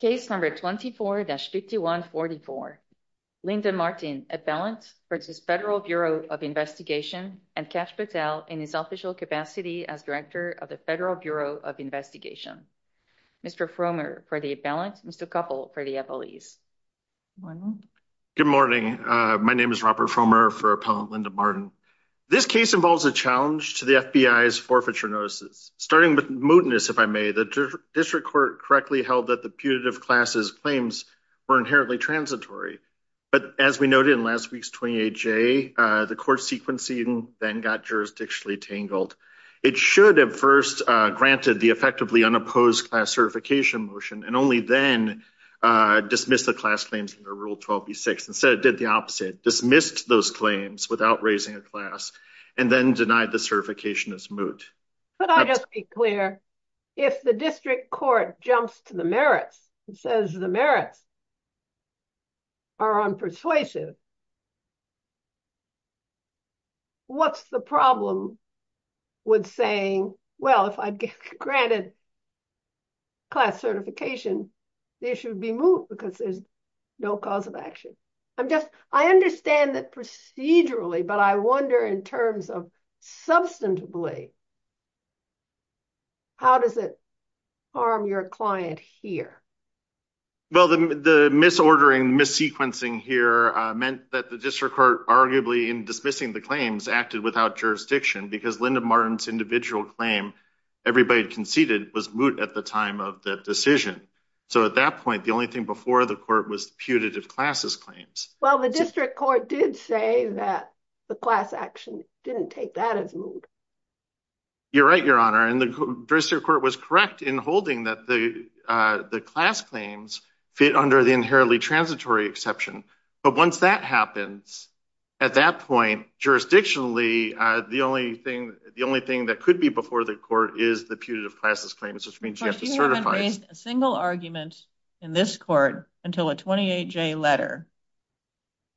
Case number 24-5144. Linda Martin, appellant for the Federal Bureau of Investigation and Cash Patel in his official capacity as Director of the Federal Bureau of Investigation. Mr. Fromer for the appellant, Mr. Koppel for the appellees. Good morning. My name is Robert Fromer for Appellant Linda Martin. This case involves a challenge to the FBI's forfeiture notices, starting with mootness, if I may. The District Court correctly held that the putative class's claims were inherently transitory. But as we noted in last week's 28-J, the court's sequencing then got jurisdictionally tangled. It should have first granted the effectively unopposed class certification motion and only then dismiss the class claims under Rule 12b-6. Instead, it did the opposite, dismissed those claims without raising a and then denied the certification as moot. Could I just be clear? If the District Court jumps to the merits and says the merits are unpersuasive, what's the problem with saying, well, if I'd get granted class certification, the issue would be moot because there's no cause of action. I understand that procedurally, but I wonder in terms of substantively, how does it harm your client here? Well, the misordering, missequencing here meant that the District Court, arguably in dismissing the claims, acted without jurisdiction because Linda Martin's individual claim everybody had conceded was moot at the time of the decision. So at that point, the only thing before the court was putative class's claims. Well, the District Court did say that the class action didn't take that as moot. You're right, Your Honor, and the District Court was correct in holding that the class claims fit under the inherently transitory exception. But once that happens, at that point, jurisdictionally, the only thing that could be before the court is the putative class's claims, which means you have to certify it. You haven't raised a single argument in this court until a 28-J letter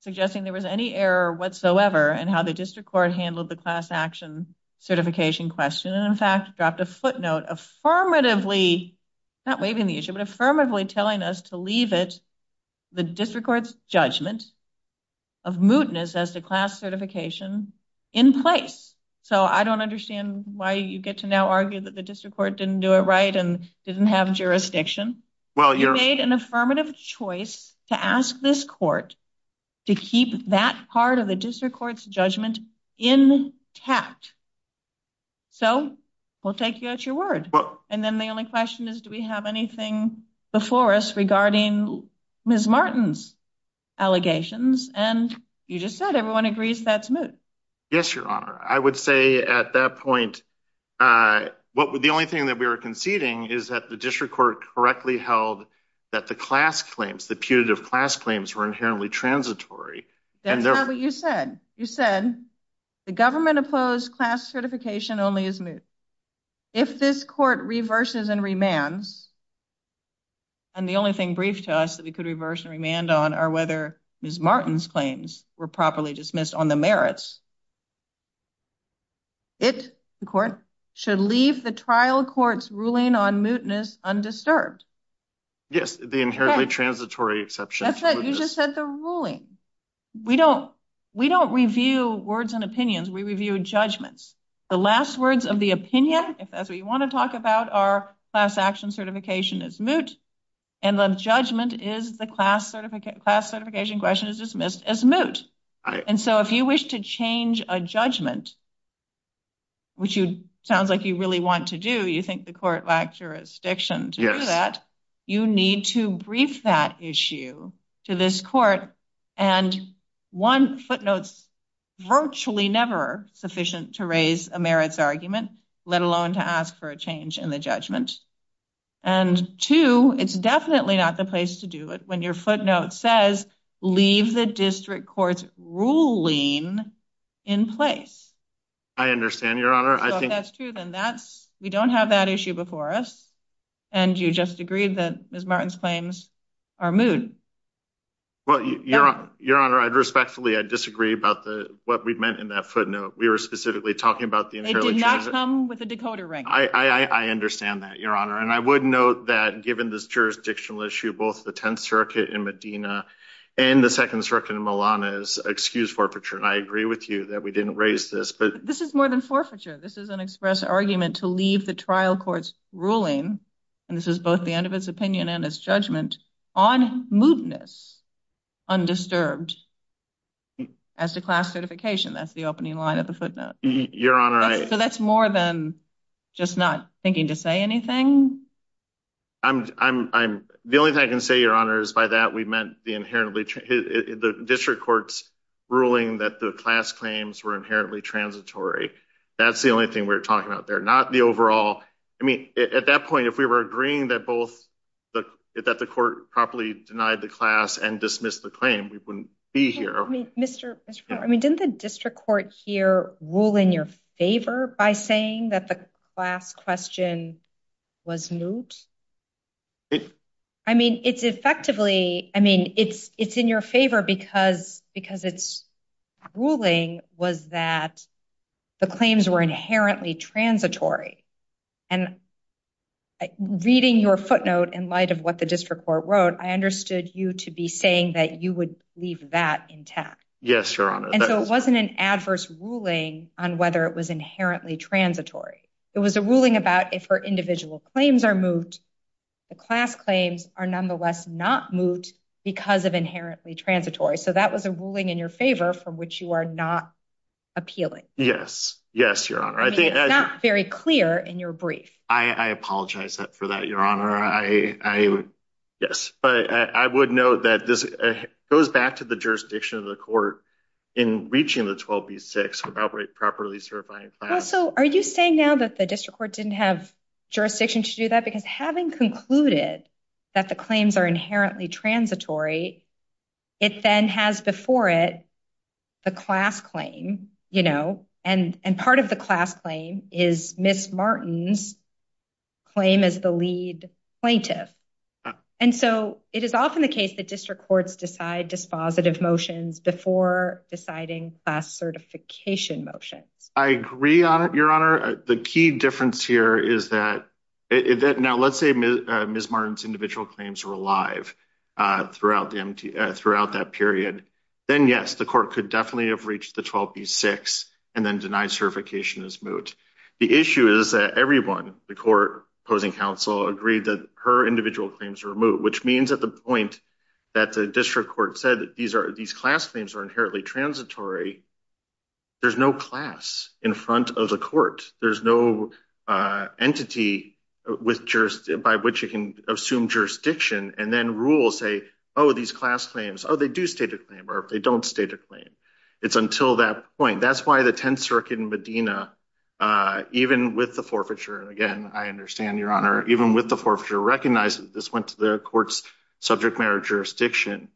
suggesting there was any error whatsoever in how the District Court handled the class action certification question, and in fact, dropped a footnote affirmatively, not waiving the issue, but affirmatively telling us to leave it, the District Court's judgment of mootness as to class certification in place. So I don't understand why you get to now argue that the District Court didn't do it right and didn't have jurisdiction. You made an affirmative choice to ask this court to keep that part of the District Court's judgment intact. So we'll take you at your word. And then the only question is, do we have anything before us regarding Ms. Martin's allegations? And you just said everyone agrees that's moot. Yes, Your Honor. I would say at that point, the only thing that we were conceding is that the District Court correctly held that the class claims, the putative class claims were inherently transitory. That's not what you said. You said the government opposed class certification only as moot. If this court reverses and remands, and the only thing brief to us that we could reverse and remand on are whether Ms. Martin's claims were properly dismissed on the merits, it, the court, should leave the trial court's ruling on mootness undisturbed. Yes, the inherently transitory exception. That's it. You just said the ruling. We don't review words and opinions. We review judgments. The last words of the opinion, if that's what you want to talk about, are class action certification is moot, and the judgment is the class certification question is dismissed as moot. And so if you wish to change a judgment, which sounds like you really want to do, you think the court lacked jurisdiction to do that, you need to brief that issue to this court. And one footnotes, virtually never sufficient to raise a merits argument, let alone to ask for a change in the judgment. And two, it's definitely not the place to do it when your footnote says, leave the district court's ruling in place. I understand your honor. I think that's true. Then that's, we don't have that issue before us. And you just agreed that Ms. Martin's claims are moot. Well, your honor, I'd respectfully, I disagree about the, what we meant in that footnote. We were specifically talking about the inherently transitory exception. It did not come with a decoder ranking. I understand that your honor. And I would note that given this jurisdictional issue, both the 10th circuit in Medina and the second circuit in Milan is excused forfeiture. And I agree with you that we didn't raise this, but this is more than forfeiture. This is an express argument to leave the trial court's ruling. And this is both the end of its opinion and its judgment on mootness undisturbed as to class certification. That's the opening line of the footnote. Your honor. So that's more than just not thinking to say anything. I'm, I'm, I'm the only thing I can say, your honor, is by that we meant the inherently, the district court's ruling that the class claims were inherently transitory. That's the only thing we were talking about. They're not the overall, I mean, at that point, if we were agreeing that both the, that the court properly denied the class and dismissed the claim, we wouldn't be here. Mr. I mean, didn't the district court here rule in your favor by saying that the last question was moot? I mean, it's effectively, I mean, it's, it's in your favor because, because it's ruling was that the claims were inherently transitory and reading your footnote in light of what the district court wrote, I understood you to be saying that you would leave that intact. Yes, your honor. And so it on whether it was inherently transitory. It was a ruling about if her individual claims are moot, the class claims are nonetheless not moot because of inherently transitory. So that was a ruling in your favor from which you are not appealing. Yes, yes, your honor. I think it's not very clear in your brief. I apologize for that, your honor. I, I, yes, but I would know that this goes back to the jurisdiction of the court in reaching the 12 B six properly. So are you saying now that the district court didn't have jurisdiction to do that because having concluded that the claims are inherently transitory, it then has before it the class claim, you know, and, and part of the class claim is Ms. Martin's claim as the lead plaintiff. And so it is often the case that district courts decide dispositive motions before deciding class certification motions. I agree on it, your honor. The key difference here is that now let's say Ms. Martin's individual claims were alive throughout the MTA throughout that period. Then yes, the court could definitely have reached the 12 B six and then denied certification as moot. The issue is that everyone, the court opposing counsel agreed that her individual claims were moot, which means at the point that the district court said that these are, these class claims are inherently transitory. There's no class in front of the court. There's no entity with just by which you can assume jurisdiction and then rule say, oh, these class claims, oh, they do state a claim or if they don't state a claim, it's until that point. That's why the 10th circuit in Medina, uh, even with the forfeiture. And again, I understand your honor, even with the forfeiture recognizes this went to the court's subject marriage jurisdiction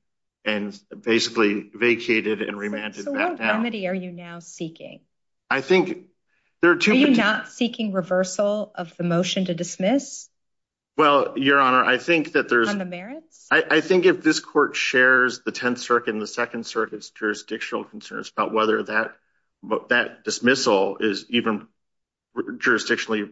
and basically vacated and remanded. Are you now seeking, I think there are two not seeking reversal of the motion to dismiss. Well, your honor, I think that there's I think if this court shares the 10th circuit and the second circuit's jurisdictional concerns about whether that that dismissal is even jurisdictionally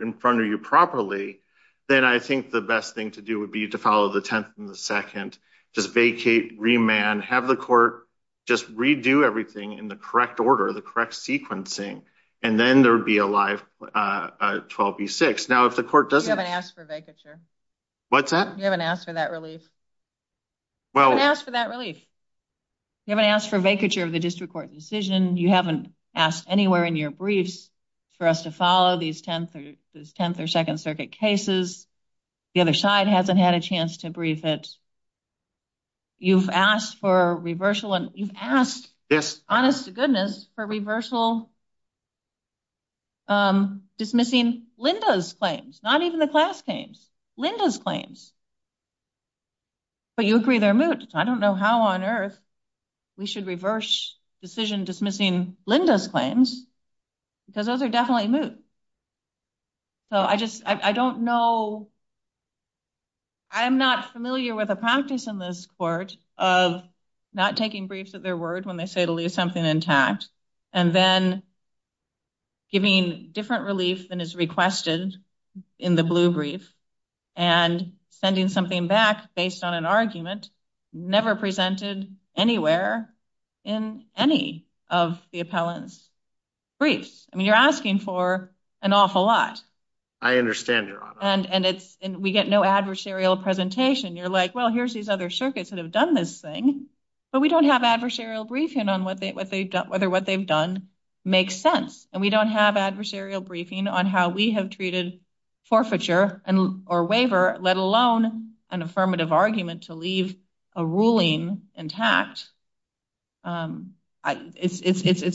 in front of you properly, then I think the best thing to do would be to follow the 10th and the second, just vacate, remand, have the court just redo everything in the correct order, the correct sequencing, and then there would be a live, uh, 12 B six. Now, if the court doesn't ask for vacature, what's that? You haven't asked for that relief. Well, I asked for that relief. You haven't asked for vacature of the district court decision. You haven't asked anywhere in your briefs for us to follow these 10th or 10th or second circuit cases. The other side hasn't had a chance to brief it. You've asked for reversal, and you've asked honest to goodness for reversal, um, dismissing Linda's claims, not even the class games, Linda's claims. But you agree they're moot. I don't know how on earth we should reverse decision dismissing Linda's claims because those are definitely moot. So I just, I don't know. I'm not familiar with a practice in this court of not taking briefs at their word when they say to leave something intact and then giving different relief than is requested in the blue brief and sending something back based on an argument never presented anywhere in any of the appellants briefs. I mean, you're asking for an awful lot. I understand your honor. And it's and we get no adversarial presentation. You're like, well, here's these other circuits that have done this thing, but we don't have adversarial briefing on what they've done, whether what they've done makes sense. And we don't have adversarial briefing on how we have treated forfeiture and or waiver, let alone an affirmative argument to leave a ruling intact. Um, it's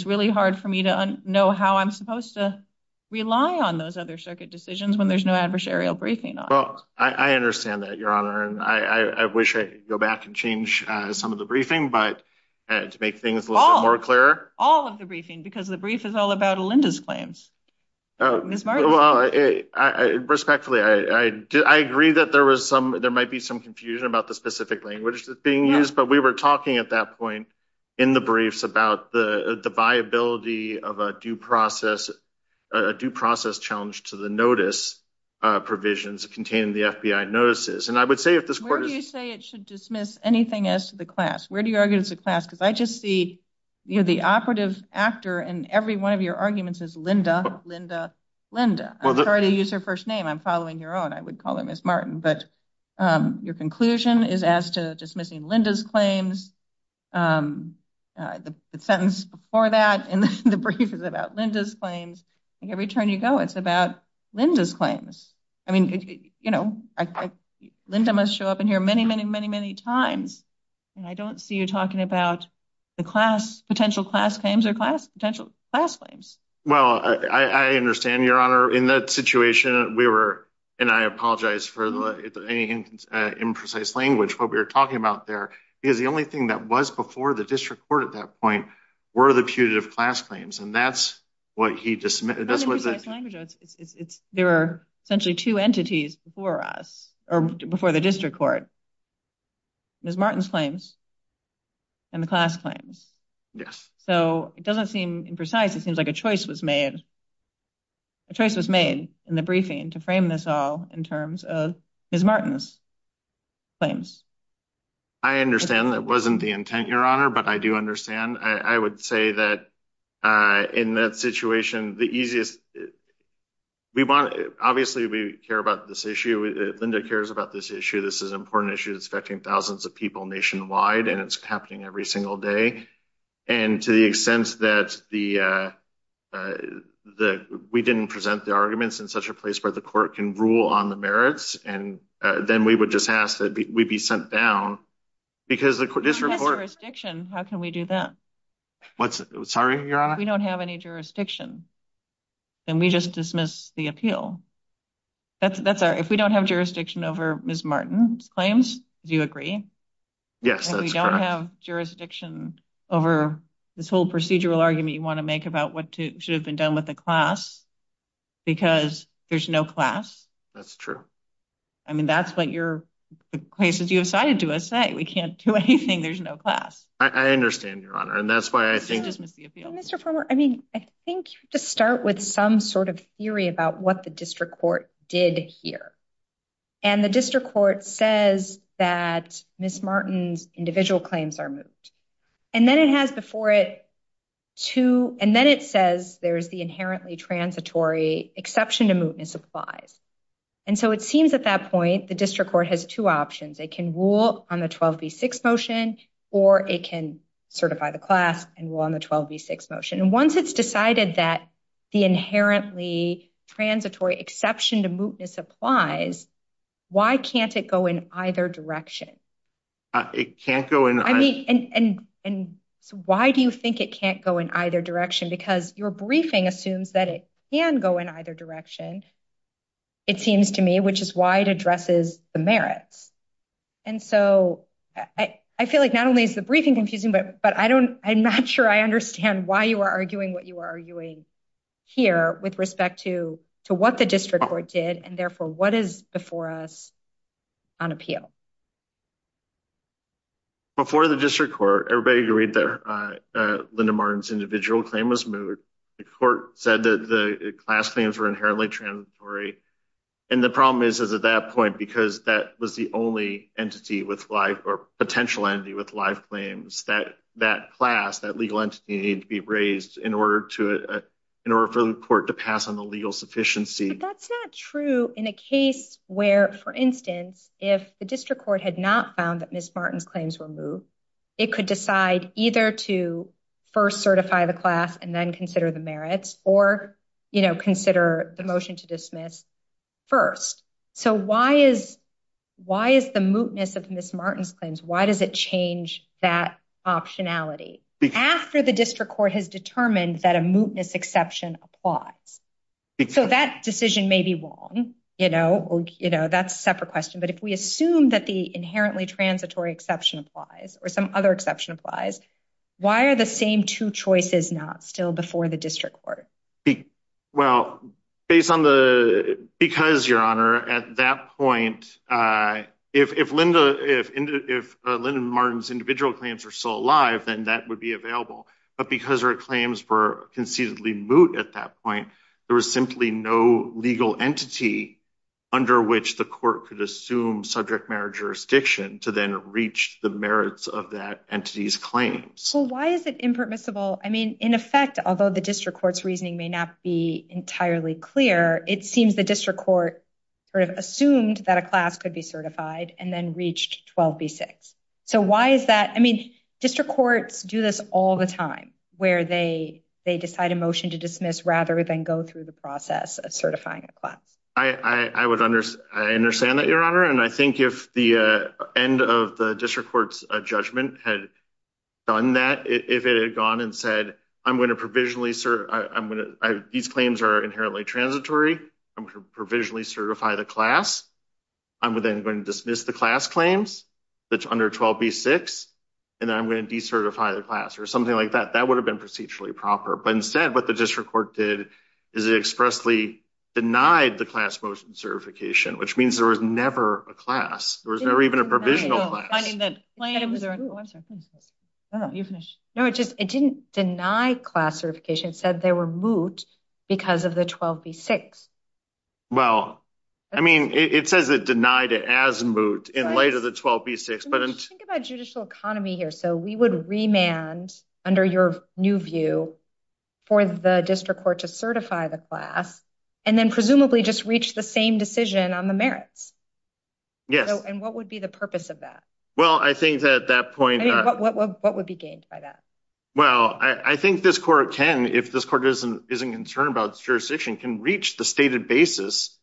really hard for me to know how I'm supposed to rely on those other circuit decisions when there's no adversarial briefing. I understand that your honor. And I wish I could go back and some of the briefing, but to make things more clear, all of the briefing, because the brief is all about Alinda's claims. Oh, well, I respectfully, I agree that there was some, there might be some confusion about the specific language that's being used. But we were talking at that point in the briefs about the viability of a due process, a due process challenge to the notice provisions contained in the FBI notices. And I would say if this court, you say it should dismiss anything as to the class, where do you argue it's a class? Cause I just see, you know, the operative actor and every one of your arguments is Linda, Linda, Linda. I'm sorry to use her first name. I'm following your own. I would call her Ms. Martin, but, um, your conclusion is as to dismissing Linda's claims. Um, uh, the sentence before that in the brief is about Linda's claims. I think every turn you go, it's about Linda's claims. I mean, you know, Linda must show up in here many, many, many, many times. And I don't see you talking about the class potential class claims or class potential class claims. Well, I understand your honor in that situation we were, and I apologize for the imprecise language, what we were talking about there is the only thing that was before the district court at that point were the putative class claims. And that's what he dismissed. There were essentially two entities before us or before the district court, Ms. Martin's claims and the class claims. Yes. So it doesn't seem imprecise. It seems like a choice was made. A choice was made in the briefing to frame this all in terms of Ms. Martin's claims. I understand that wasn't the intent, your honor, but I do understand. I would say that, uh, in that situation, the easiest we want, obviously we care about this issue. Linda cares about this issue. This is an important issue that's affecting thousands of people nationwide, and it's happening every single day. And to the extent that the, uh, uh, the, we didn't present the arguments in such a place where the court can rule on the merits. And then we would just ask we'd be sent down because the court, this report, jurisdiction, how can we do that? What's sorry, your honor. We don't have any jurisdiction and we just dismiss the appeal. That's that's our, if we don't have jurisdiction over Ms. Martin's claims, do you agree? Yes. We don't have jurisdiction over this whole procedural argument you want to make about what should have been done with the class because there's no class. That's true. I mean, that's what your places you have cited to us say, we can't do anything. There's no class. I understand your honor. And that's why I think just miss the appeal. Mr. Farmer. I mean, I think you have to start with some sort of theory about what the district court did here. And the district court says that Ms. Martin's individual claims are moved. And then it has before it too. And then it says there's the inherently transitory exception to mootness applies. And so it seems at that point, the district court has two options. They can rule on the 12 V six motion, or it can certify the class and we'll on the 12 V six motion. And once it's decided that the inherently transitory exception to mootness applies, why can't it go in either direction? It can't go in. And so why do you think it can't go in either direction? Because your briefing assumes that it can go in either direction. It seems to me, which is why it addresses the merits. And so I feel like not only is the briefing confusing, but, but I don't, I'm not sure I understand why you are arguing what you are arguing here with respect to, to what the district court did. And therefore what is before us on appeal before the district court, everybody agreed there. Uh, uh, Linda Martin's individual claim was moved. The court said that the class claims were inherently transitory. And the problem is, is at that point, because that was the only entity with life or potential entity with life claims that that class, that legal entity need to be raised in order to, uh, in order for the court to pass on the legal sufficiency. That's not true in a case where, for instance, if the district had not found that Ms. Martin's claims were moved, it could decide either to first certify the class and then consider the merits or, you know, consider the motion to dismiss first. So why is, why is the mootness of Ms. Martin's claims? Why does it change that optionality after the district court has determined that a mootness exception applies? So that decision may be wrong, you know, that's a separate question. But if we assume that the inherently transitory exception applies or some other exception applies, why are the same two choices not still before the district court? Well, based on the, because your honor at that point, uh, if, if Linda, if, if, uh, Linda Martin's individual claims are still alive, then that would be available. But because our claims were moot at that point, there was simply no legal entity under which the court could assume subject matter jurisdiction to then reach the merits of that entity's claims. So why is it impermissible? I mean, in effect, although the district court's reasoning may not be entirely clear, it seems the district court sort of assumed that a class could be certified and then reached 12B6. So why is that? I mean, district courts do this all the time where they, they decide a motion to dismiss rather than go through the process of certifying a class. I, I, I would understand that your honor. And I think if the, uh, end of the district court's judgment had done that, if it had gone and said, I'm going to provisionally serve, I'm going to, these claims are inherently transitory. I'm going to provisionally certify the class. I'm within going to dismiss the class claims that's under 12B6. And then I'm going to decertify the class or something like that. That would have been procedurally proper, but instead what the district court did is it expressly denied the class motion certification, which means there was never a class. There was never even a provisional class. No, it just, it didn't deny class certification. It said they were moot because of the 12B6. Well, I mean, it says it denied it as moot in light of the 12B6, but think about judicial economy here. So we would remand under your new view for the district court to certify the class and then presumably just reach the same decision on the merits. Yes. And what would be the purpose of that? Well, I think that at that point, what would be gained by that? Well, I think this court can, if this court isn't, isn't concerned about jurisdiction can reach the stated basis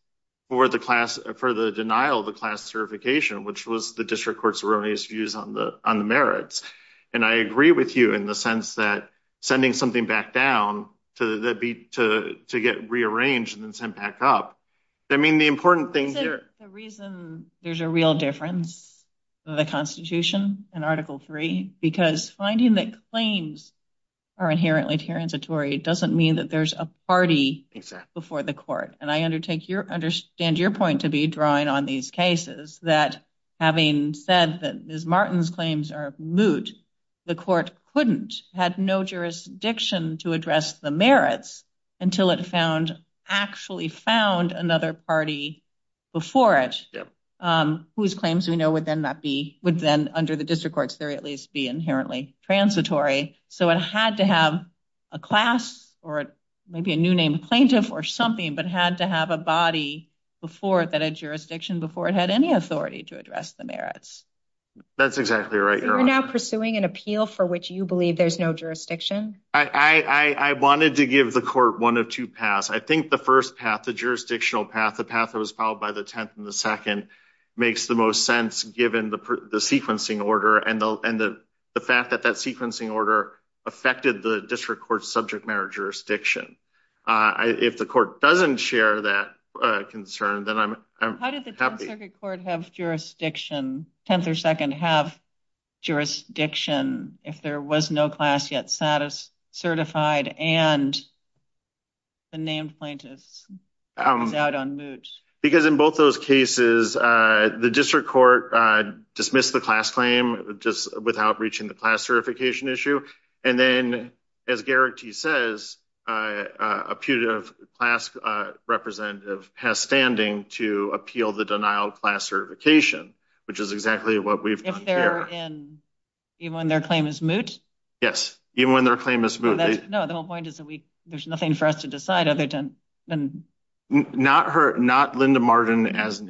for the class for the denial of the class certification, which was the district court's erroneous views on the, on the merits. And I agree with you in the sense that sending something back down to the beat, to, to get rearranged and then sent back up. I mean, the important thing here, the reason there's a real difference of the constitution and article three, because finding that claims are inherently transitory. It doesn't mean that there's a party before the court. And I agree with you on these cases that having said that Ms. Martin's claims are moot, the court couldn't, had no jurisdiction to address the merits until it found, actually found another party before it, whose claims we know would then not be, would then under the district courts, there at least be inherently transitory. So it had to have a class or maybe a new name plaintiff or something, but had to have a body before it, that had jurisdiction before it had any authority to address the merits. That's exactly right. You're now pursuing an appeal for which you believe there's no jurisdiction. I, I wanted to give the court one of two paths. I think the first path, the jurisdictional path, the path that was followed by the 10th and the second makes the most sense given the, the sequencing order and the, and the fact that that sequencing order affected the district court's subject matter jurisdiction. If the court doesn't share that concern, then I'm happy. How did the 10th Circuit Court have jurisdiction, 10th or second have jurisdiction if there was no class yet status certified and the name plaintiff is out on moot? Because in both those cases, the district court dismissed the class claim just without reaching the class certification issue. And then as Garrity says, uh, uh, a putative class, uh, representative has standing to appeal the denial of class certification, which is exactly what we've done here. Even when their claim is moot? Yes. Even when their claim is moot. No, the whole point is that we, there's nothing for us to decide other than. Not her, not Linda Martin as an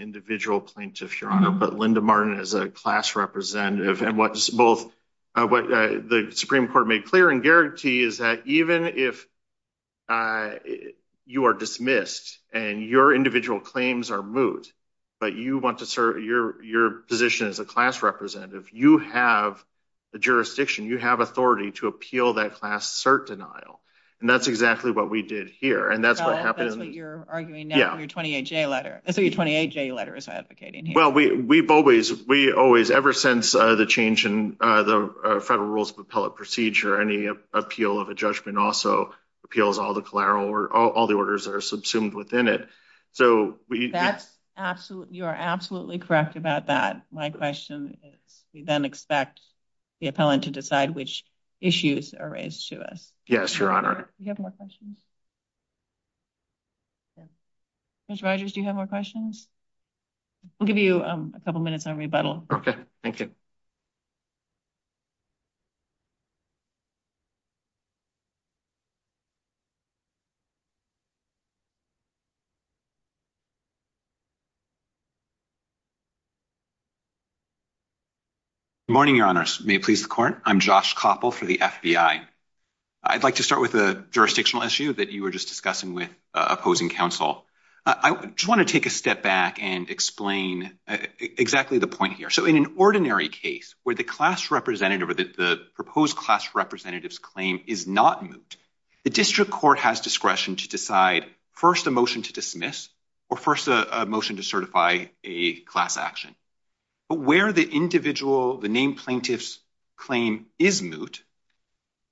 plaintiff, your honor, but Linda Martin as a class representative. And what's both, uh, what the Supreme court made clear and guarantee is that even if, uh, you are dismissed and your individual claims are moot, but you want to serve your, your position as a class representative, you have the jurisdiction, you have authority to appeal that class cert denial. And that's exactly what we did here. And that's what happened. That's what you're arguing now, your 28 J letter. So your 28 J letter is advocating. Well, we, we've always, we always ever since, uh, the change in, uh, the federal rules of appellate procedure, any appeal of a judgment also appeals all the collateral or all the orders that are subsumed within it. So that's absolutely, you are absolutely correct about that. My question is we then expect the appellant to decide which issues are raised to us. Yes, your honor. Mr. Rogers, do you have more questions? I'll give you a couple of minutes on rebuttal. Okay. Thank you morning. Your honors may please the court. I'm Josh couple for the FBI. I'd like to start with a jurisdictional issue that you were just discussing with counsel. I just want to take a step back and explain exactly the point here. So in an ordinary case where the class representative or the proposed class representatives claim is not moot, the district court has discretion to decide first a motion to dismiss or first a motion to certify a class action, but where the individual, the name plaintiffs claim is moot.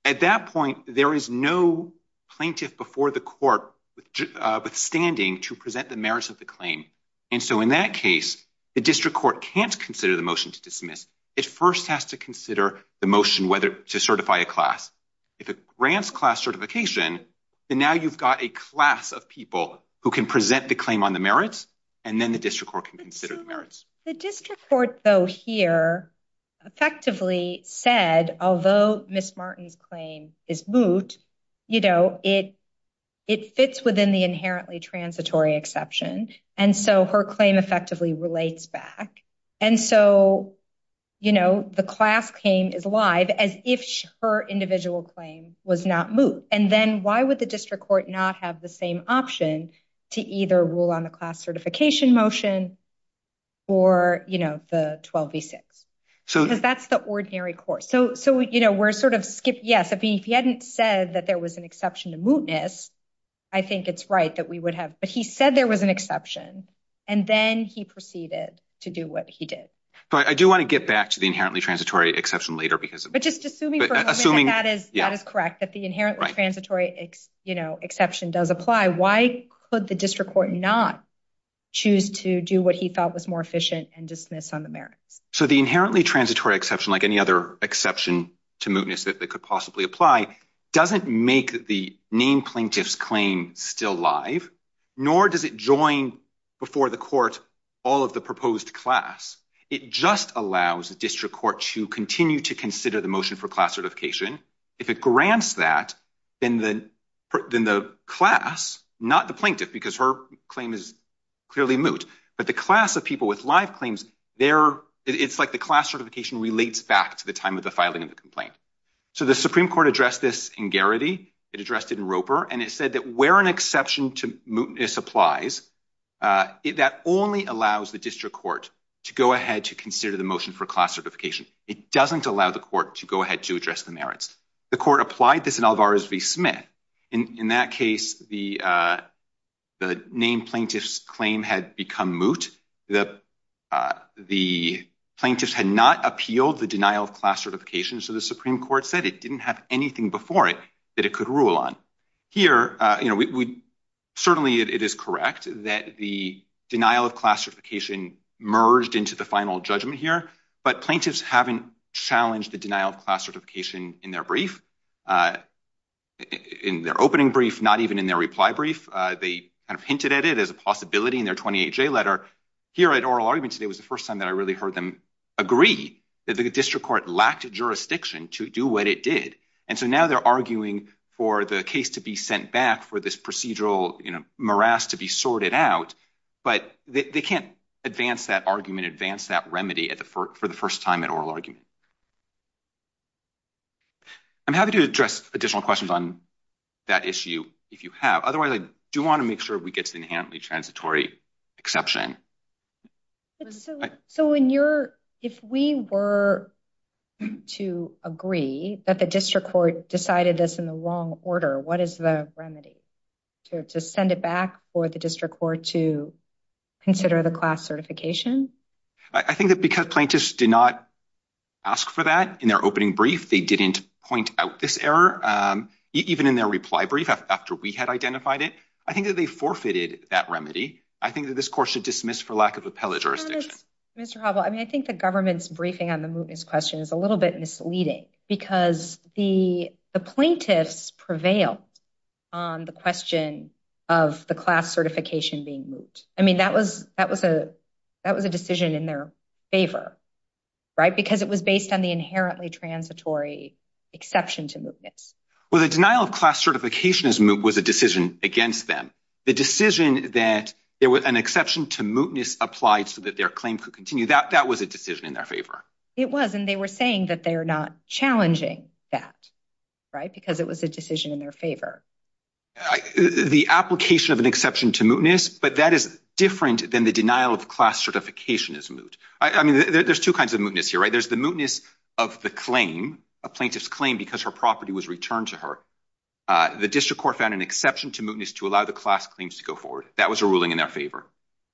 At that point, there is no plaintiff before the court withstanding to present the merits of the claim. And so in that case, the district court can't consider the motion to dismiss. It first has to consider the motion whether to certify a class. If it grants class certification, then now you've got a class of people who can present the claim on the merits, and then the district court can consider the merits. The district court though here effectively said, although Ms. Martin's claim is moot, it fits within the inherently transitory exception. And so her claim effectively relates back. And so the class claim is alive as if her individual claim was not moot. And then why would the district court not have the same option to either rule on the class certification motion or the 12v6? Because that's the ordinary course. So we're sort of skipping. Yes, if he hadn't said that there was an exception to mootness, I think it's right that we would have. But he said there was an exception, and then he proceeded to do what he did. But I do want to get back to the inherently transitory exception later. But just assuming that is correct, that the inherently transitory exception does apply, why could the district court not choose to do what he felt was more efficient and dismiss on the merits? So the inherently transitory exception, like any other exception to mootness that could possibly apply, doesn't make the named plaintiff's claim still live, nor does it join before the court all of the proposed class. It just allows the district court to continue to consider the motion for class certification. If it grants that, then the class, not the plaintiff, because her claim is clearly moot, but the class of people with live claims, it's like the class certification relates back to the time of the filing of the complaint. So the Supreme Court addressed this in Garrity. It addressed it in Roper. And it said that where an exception to mootness applies, that only allows the district court to go ahead to consider the class certification. It doesn't allow the court to go ahead to address the merits. The court applied this in Alvarez v. Smith. In that case, the named plaintiff's claim had become moot. The plaintiffs had not appealed the denial of class certification. So the Supreme Court said it didn't have anything before it that it could rule on. Here, certainly it is correct that the denial of class certification merged into the final judgment here, but plaintiffs haven't challenged the denial of class certification in their brief, in their opening brief, not even in their reply brief. They kind of hinted at it as a possibility in their 28-J letter. Here at oral argument today was the first time that I really heard them agree that the district court lacked jurisdiction to do what it did. And so now they're arguing for the case to be sent back for this morass to be sorted out, but they can't advance that argument, advance that remedy for the first time at oral argument. I'm happy to address additional questions on that issue if you have. Otherwise, I do want to make sure we get to the inherently transitory exception. So if we were to agree that the district court decided this in the wrong order, what is the remedy? To send it back for the district court to consider the class certification? I think that because plaintiffs did not ask for that in their opening brief, they didn't point out this error, even in their reply brief after we had identified it. I think that they forfeited that remedy. I think that this court should dismiss for lack of appellate jurisdiction. Mr. Hobble, I mean, I think the government's briefing on the mootness question is a little misleading, because the plaintiffs prevailed on the question of the class certification being moot. I mean, that was a decision in their favor, right? Because it was based on the inherently transitory exception to mootness. Well, the denial of class certification as moot was a decision against them. The decision that there was an exception to mootness applied so that their could continue. That was a decision in their favor. It was, and they were saying that they were not challenging that, right? Because it was a decision in their favor. The application of an exception to mootness, but that is different than the denial of class certification as moot. I mean, there's two kinds of mootness here, right? There's the mootness of the claim, a plaintiff's claim, because her property was returned to her. The district court found an exception to mootness to allow the class claims to go forward. That was a ruling in their favor.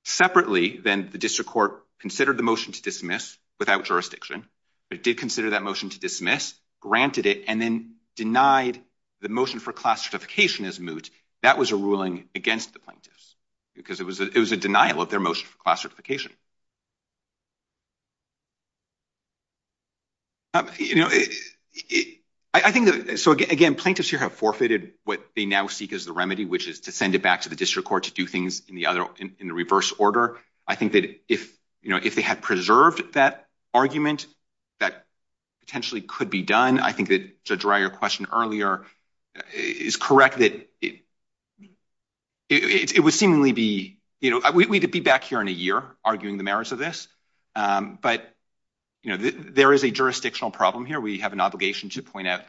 Separately, then the district court considered the motion to dismiss without jurisdiction. It did consider that motion to dismiss, granted it, and then denied the motion for class certification as moot. That was a ruling against the plaintiffs because it was a denial of their motion for class certification. I think that, so again, plaintiffs here have forfeited what they now seek as the remedy, which is to send it back to the district court to do things in the reverse order. I think that if, you know, if they had preserved that argument, that potentially could be done. I think that Judge Rye, your question earlier is correct that it would seemingly be, you know, we'd be back here in a year arguing the merits of this. But, you know, there is a jurisdictional problem here. We have an obligation to point out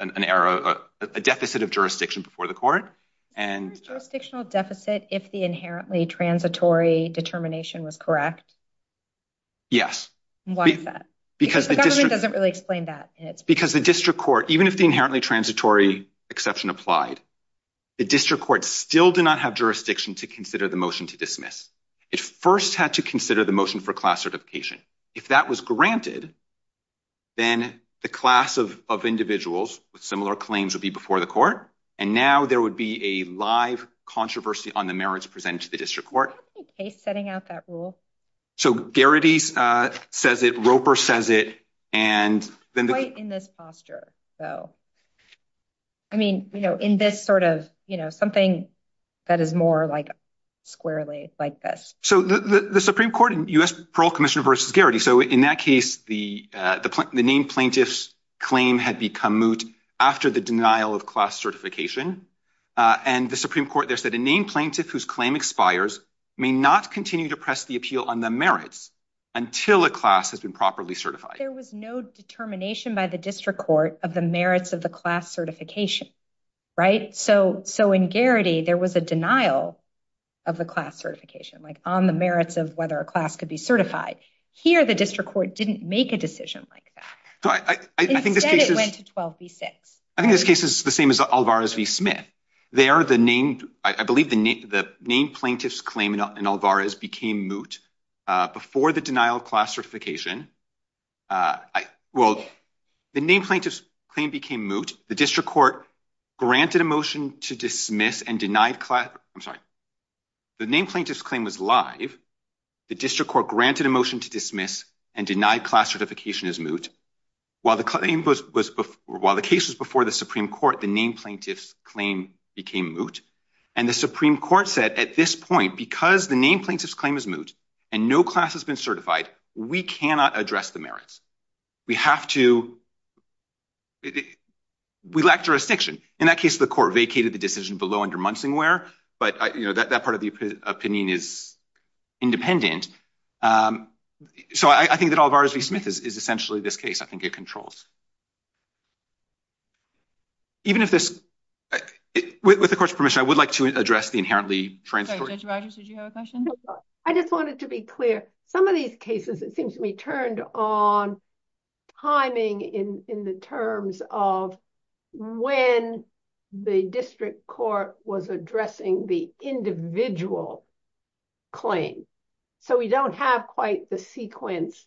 an error, a deficit of jurisdiction before the court. Is there a jurisdictional deficit if the inherently transitory determination was correct? Yes. Why is that? Because the government doesn't really explain that. Because the district court, even if the inherently transitory exception applied, the district court still did not have jurisdiction to consider the motion to dismiss. It first had to consider the motion for class certification. If that was granted, then the class of individuals with similar claims would be before the court. And now there would be a live controversy on the merits presented to the district court. Is there a case setting out that rule? So Garrity says it, Roper says it, and then Quite in this posture, though. I mean, you know, in this sort of, you know, something that is more like squarely like this. So the Supreme Court and U.S. Parole Commissioner versus Garrity, so in that case the named plaintiff's claim had become moot after the denial of class certification. And the Supreme Court there said a named plaintiff whose claim expires may not continue to press the appeal on the merits until a class has been properly certified. There was no determination by the district court of the merits of the class certification, right? So in Garrity, there was a denial of the class certification, like on the merits of whether a class could be certified. Here, the district court didn't make a decision like that. Instead, it went to 12 v. 6. I think this case is the same as Alvarez v. Smith. There, the named, I believe the named plaintiff's claim in Alvarez became moot before the denial of class certification. Well, the named plaintiff's claim became moot. The district court granted a motion to dismiss and denied class, I'm sorry, the named plaintiff's claim was live. The district court granted a motion to dismiss and denied class certification as moot. While the case was before the Supreme Court, the named plaintiff's claim became moot. And the Supreme Court said at this point, because the named plaintiff's claim is moot and no class has been certified, we cannot address the merits. We have to, we lack jurisdiction. In that case, the court vacated the decision below but that part of the opinion is independent. So I think that Alvarez v. Smith is essentially this case. I think it controls. Even if this, with the court's permission, I would like to address the inherently transparent- Judge Rogers, did you have a question? I just wanted to be clear. Some of these cases, it seems to me, turned on timing in the terms of when the district court was addressing the individual claim. So we don't have quite the sequence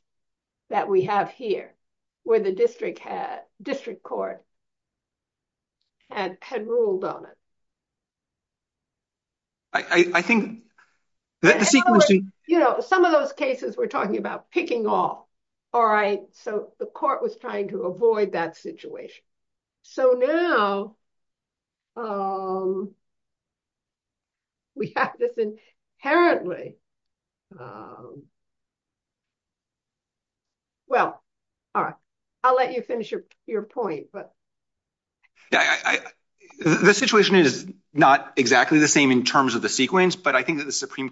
that we have here, where the district court had ruled on it. I think the sequencing- Some of those cases, we're talking about picking off. All right. So the court was trying to avoid that situation. So now, we have this inherently- Well, all right. I'll let you finish your point. The situation is not exactly the same in terms of the sequence, but I think that the Supreme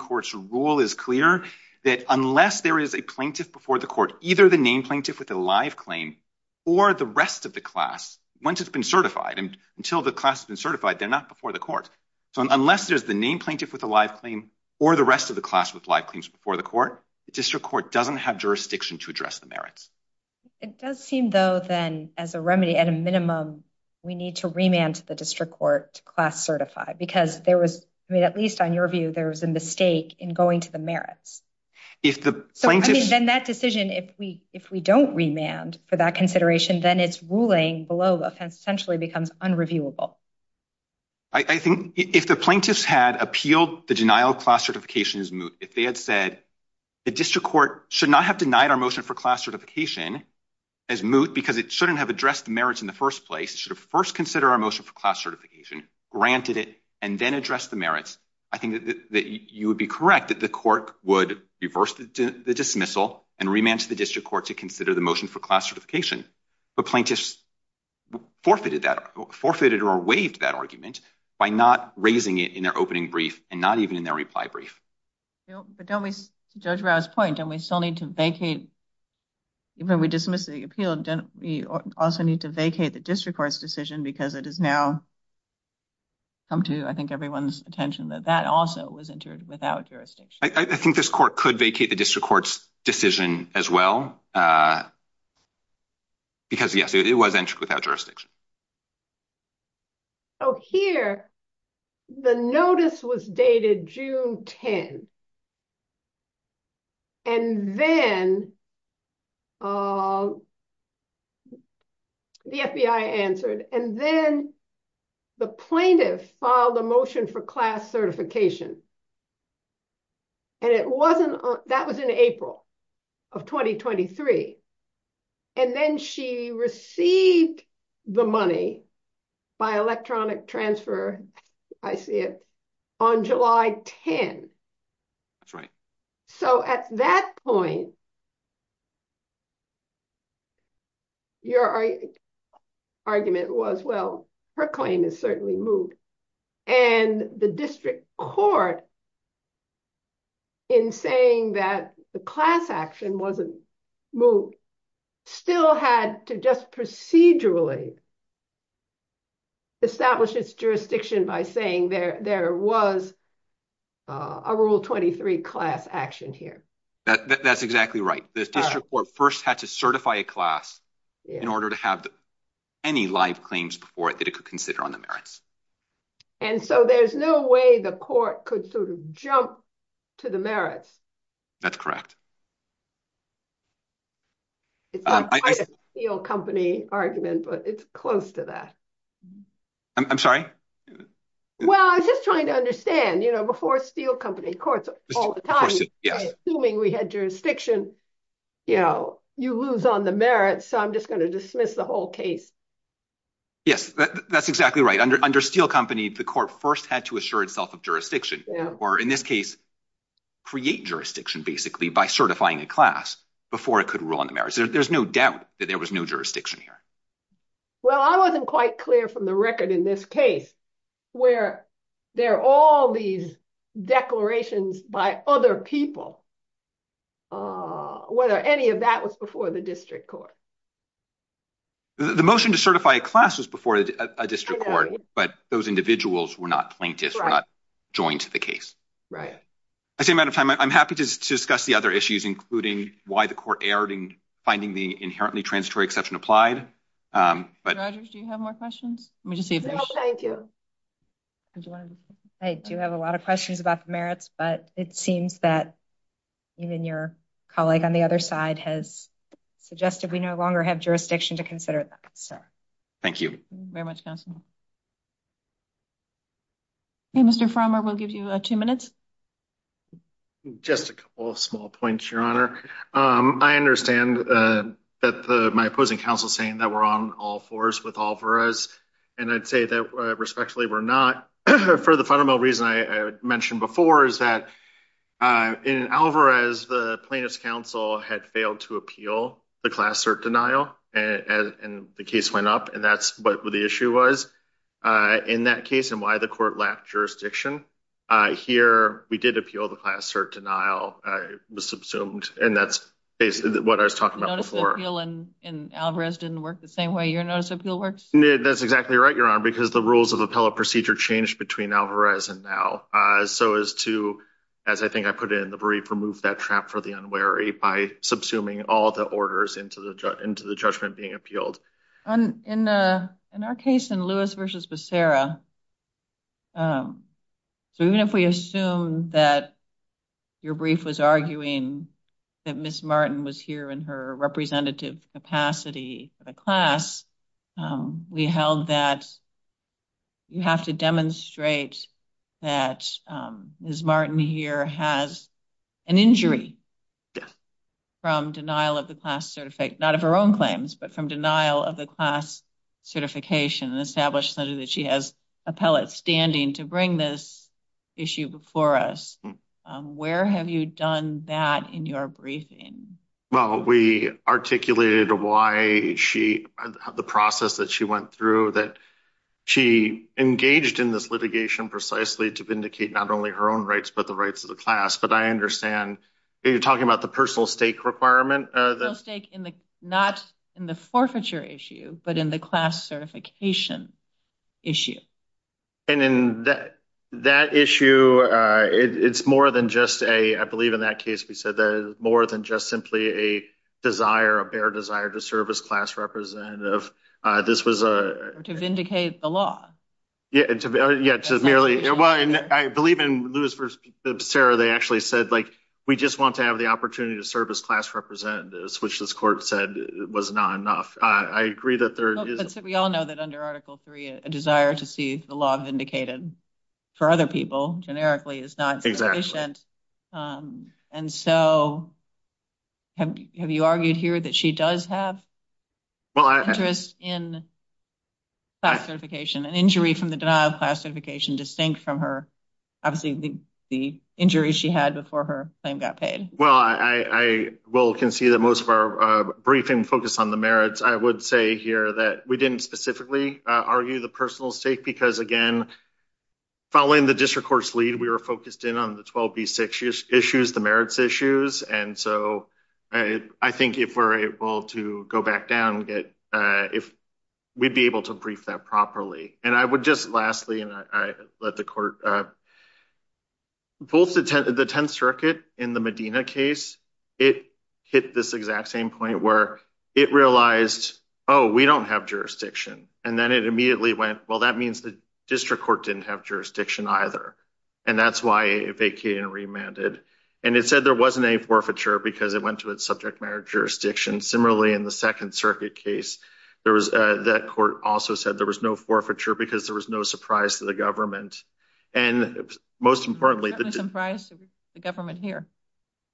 either the named plaintiff with a live claim or the rest of the class, once it's been certified, and until the class has been certified, they're not before the court. So unless there's the named plaintiff with a live claim or the rest of the class with live claims before the court, the district court doesn't have jurisdiction to address the merits. It does seem, though, then, as a remedy, at a minimum, we need to remand to the district court to class certify because there was, at least on your view, there was a mistake in going to the district court. And then that decision, if we don't remand for that consideration, then it's ruling below the offense essentially becomes unreviewable. I think if the plaintiffs had appealed the denial of class certification as moot, if they had said the district court should not have denied our motion for class certification as moot because it shouldn't have addressed the merits in the first place, it should have first considered our motion for class certification, granted it, and then addressed the merits, I think that you would be correct that the court would reverse the dismissal and remand to the district court to consider the motion for class certification. But plaintiffs forfeited that, forfeited or waived that argument by not raising it in their opening brief and not even in their reply brief. But don't we, to Judge Rau's point, don't we still need to vacate, even when we dismiss the appeal, don't we also need to vacate the district court's decision because it has now come to, I think, everyone's attention that that also was entered without jurisdiction? I think this court could vacate the district court's decision as well because, yes, it was entered without jurisdiction. Oh, here the notice was dated June 10. And then the FBI answered, and then the plaintiff filed a motion for class certification. And it wasn't, that was in April of 2023. And then she received the money by electronic transfer, I see it, on July 10. That's right. So at that point, your argument was, well, her claim is certainly moved. And the district court, in saying that the class action wasn't moved, still had to just procedurally establish its jurisdiction by saying there was a Rule 23 class action here. That's exactly right. The district court first had to certify a class in order to have any live claims before it that it could consider on the merits. And so there's no way the court could sort of jump to the merits. That's correct. It's not quite a steel company argument, but it's close to that. I'm sorry? Well, I was just trying to understand, you know, before steel company courts all the time, assuming we had jurisdiction, you know, you lose on the merits. So I'm just going to dismiss the whole case. Yes, that's exactly right. Under steel company, the court first had to assure itself of jurisdiction, or in this case, create jurisdiction, basically, by striking a case. Certifying a class before it could rule on the merits. There's no doubt that there was no jurisdiction here. Well, I wasn't quite clear from the record in this case, where there are all these declarations by other people, whether any of that was before the district court. The motion to certify a class was before a district court, but those individuals were not plaintiffs, were not joined to the case. Right. I say, matter of time, I'm happy to discuss the other issues, including why the court erred in finding the inherently transitory exception applied. Rogers, do you have more questions? No, thank you. I do have a lot of questions about the merits, but it seems that even your colleague on the other side has suggested we no longer have jurisdiction to consider that. Thank you very much, counsel. Mr. Farmer, we'll give you two minutes. Just a couple of small points, your honor. I understand that my opposing counsel is saying that we're on all fours with Alvarez, and I'd say that respectfully, we're not. For the fundamental reason I mentioned before is that in Alvarez, the plaintiff's counsel had failed to appeal the class cert denial, and the case went up, and that's what the issue was. In that case, and why the court lacked jurisdiction, here we did appeal the class cert denial. It was subsumed, and that's basically what I was talking about before. The notice of appeal in Alvarez didn't work the same way your notice of appeal works? That's exactly right, your honor, because the rules of appellate procedure changed between Alvarez and now. So as to, as I think I put in, remove that trap for the unwary by subsuming all the orders into the judgment being appealed. In our case in Lewis v. Becerra, so even if we assume that your brief was arguing that Ms. Martin was here in her representative capacity for the class, we held that you have to demonstrate that Ms. Martin here has an injury from denial of the class certificate, not of her own claims, but from denial of the class certification, and established that she has appellate standing to bring this issue before us. Where have you done that in your briefing? Well, we articulated why she, the process that she went through, that she engaged in this litigation precisely to vindicate not only her own rights, but the rights of the class, but I understand you're talking about the personal stake requirement? The stake in the, not in the forfeiture issue, but in the class certification issue. And in that issue, it's more than just a, I believe in that case we said that it's just simply a desire, a bare desire to serve as class representative. This was a- To vindicate the law. Yeah, to merely, well, I believe in Lewis v. Becerra, they actually said like, we just want to have the opportunity to serve as class representatives, which this court said was not enough. I agree that there is- We all know that under Article III, a desire to see the law vindicated for other people, generically, is not sufficient. And so, have you argued here that she does have interest in class certification, an injury from the denial of class certification distinct from her, obviously, the injuries she had before her claim got paid? Well, I will concede that most of our briefing focused on the merits. I would say here that we didn't specifically argue the personal stake because, again, following the district court's lead, we were focused in on the 12B6 issues, the merits issues. And so, I think if we're able to go back down and get, if we'd be able to brief that properly. And I would just lastly, and I let the court, both the Tenth Circuit in the Medina case, it hit this exact same point where it realized, oh, we don't have jurisdiction. And then it immediately went, well, that means the district court didn't have jurisdiction either. And that's why it vacated and remanded. And it said there wasn't any forfeiture because it went to its subject matter jurisdiction. Similarly, in the Second Circuit case, there was, that court also said there was no forfeiture because there was no surprise to the government. And most importantly, the government here,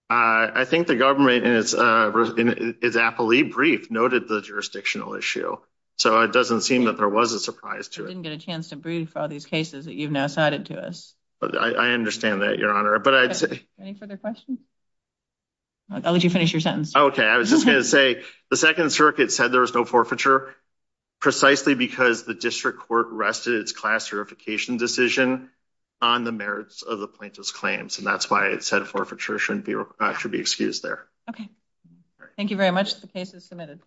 I think the government in its appellee brief noted the jurisdictional issue. So, it doesn't seem that there was a surprise to it. I didn't get a chance to brief all these cases that you've now cited to us. I understand that, Your Honor. Any further questions? I'll let you finish your sentence. Okay. I was just going to say, the Second Circuit said there was no forfeiture precisely because the district court rested its class verification decision on the merits of the plaintiff's claims. And that's why it said forfeiture should be excused there. Okay. Thank you very much. The case is adjourned.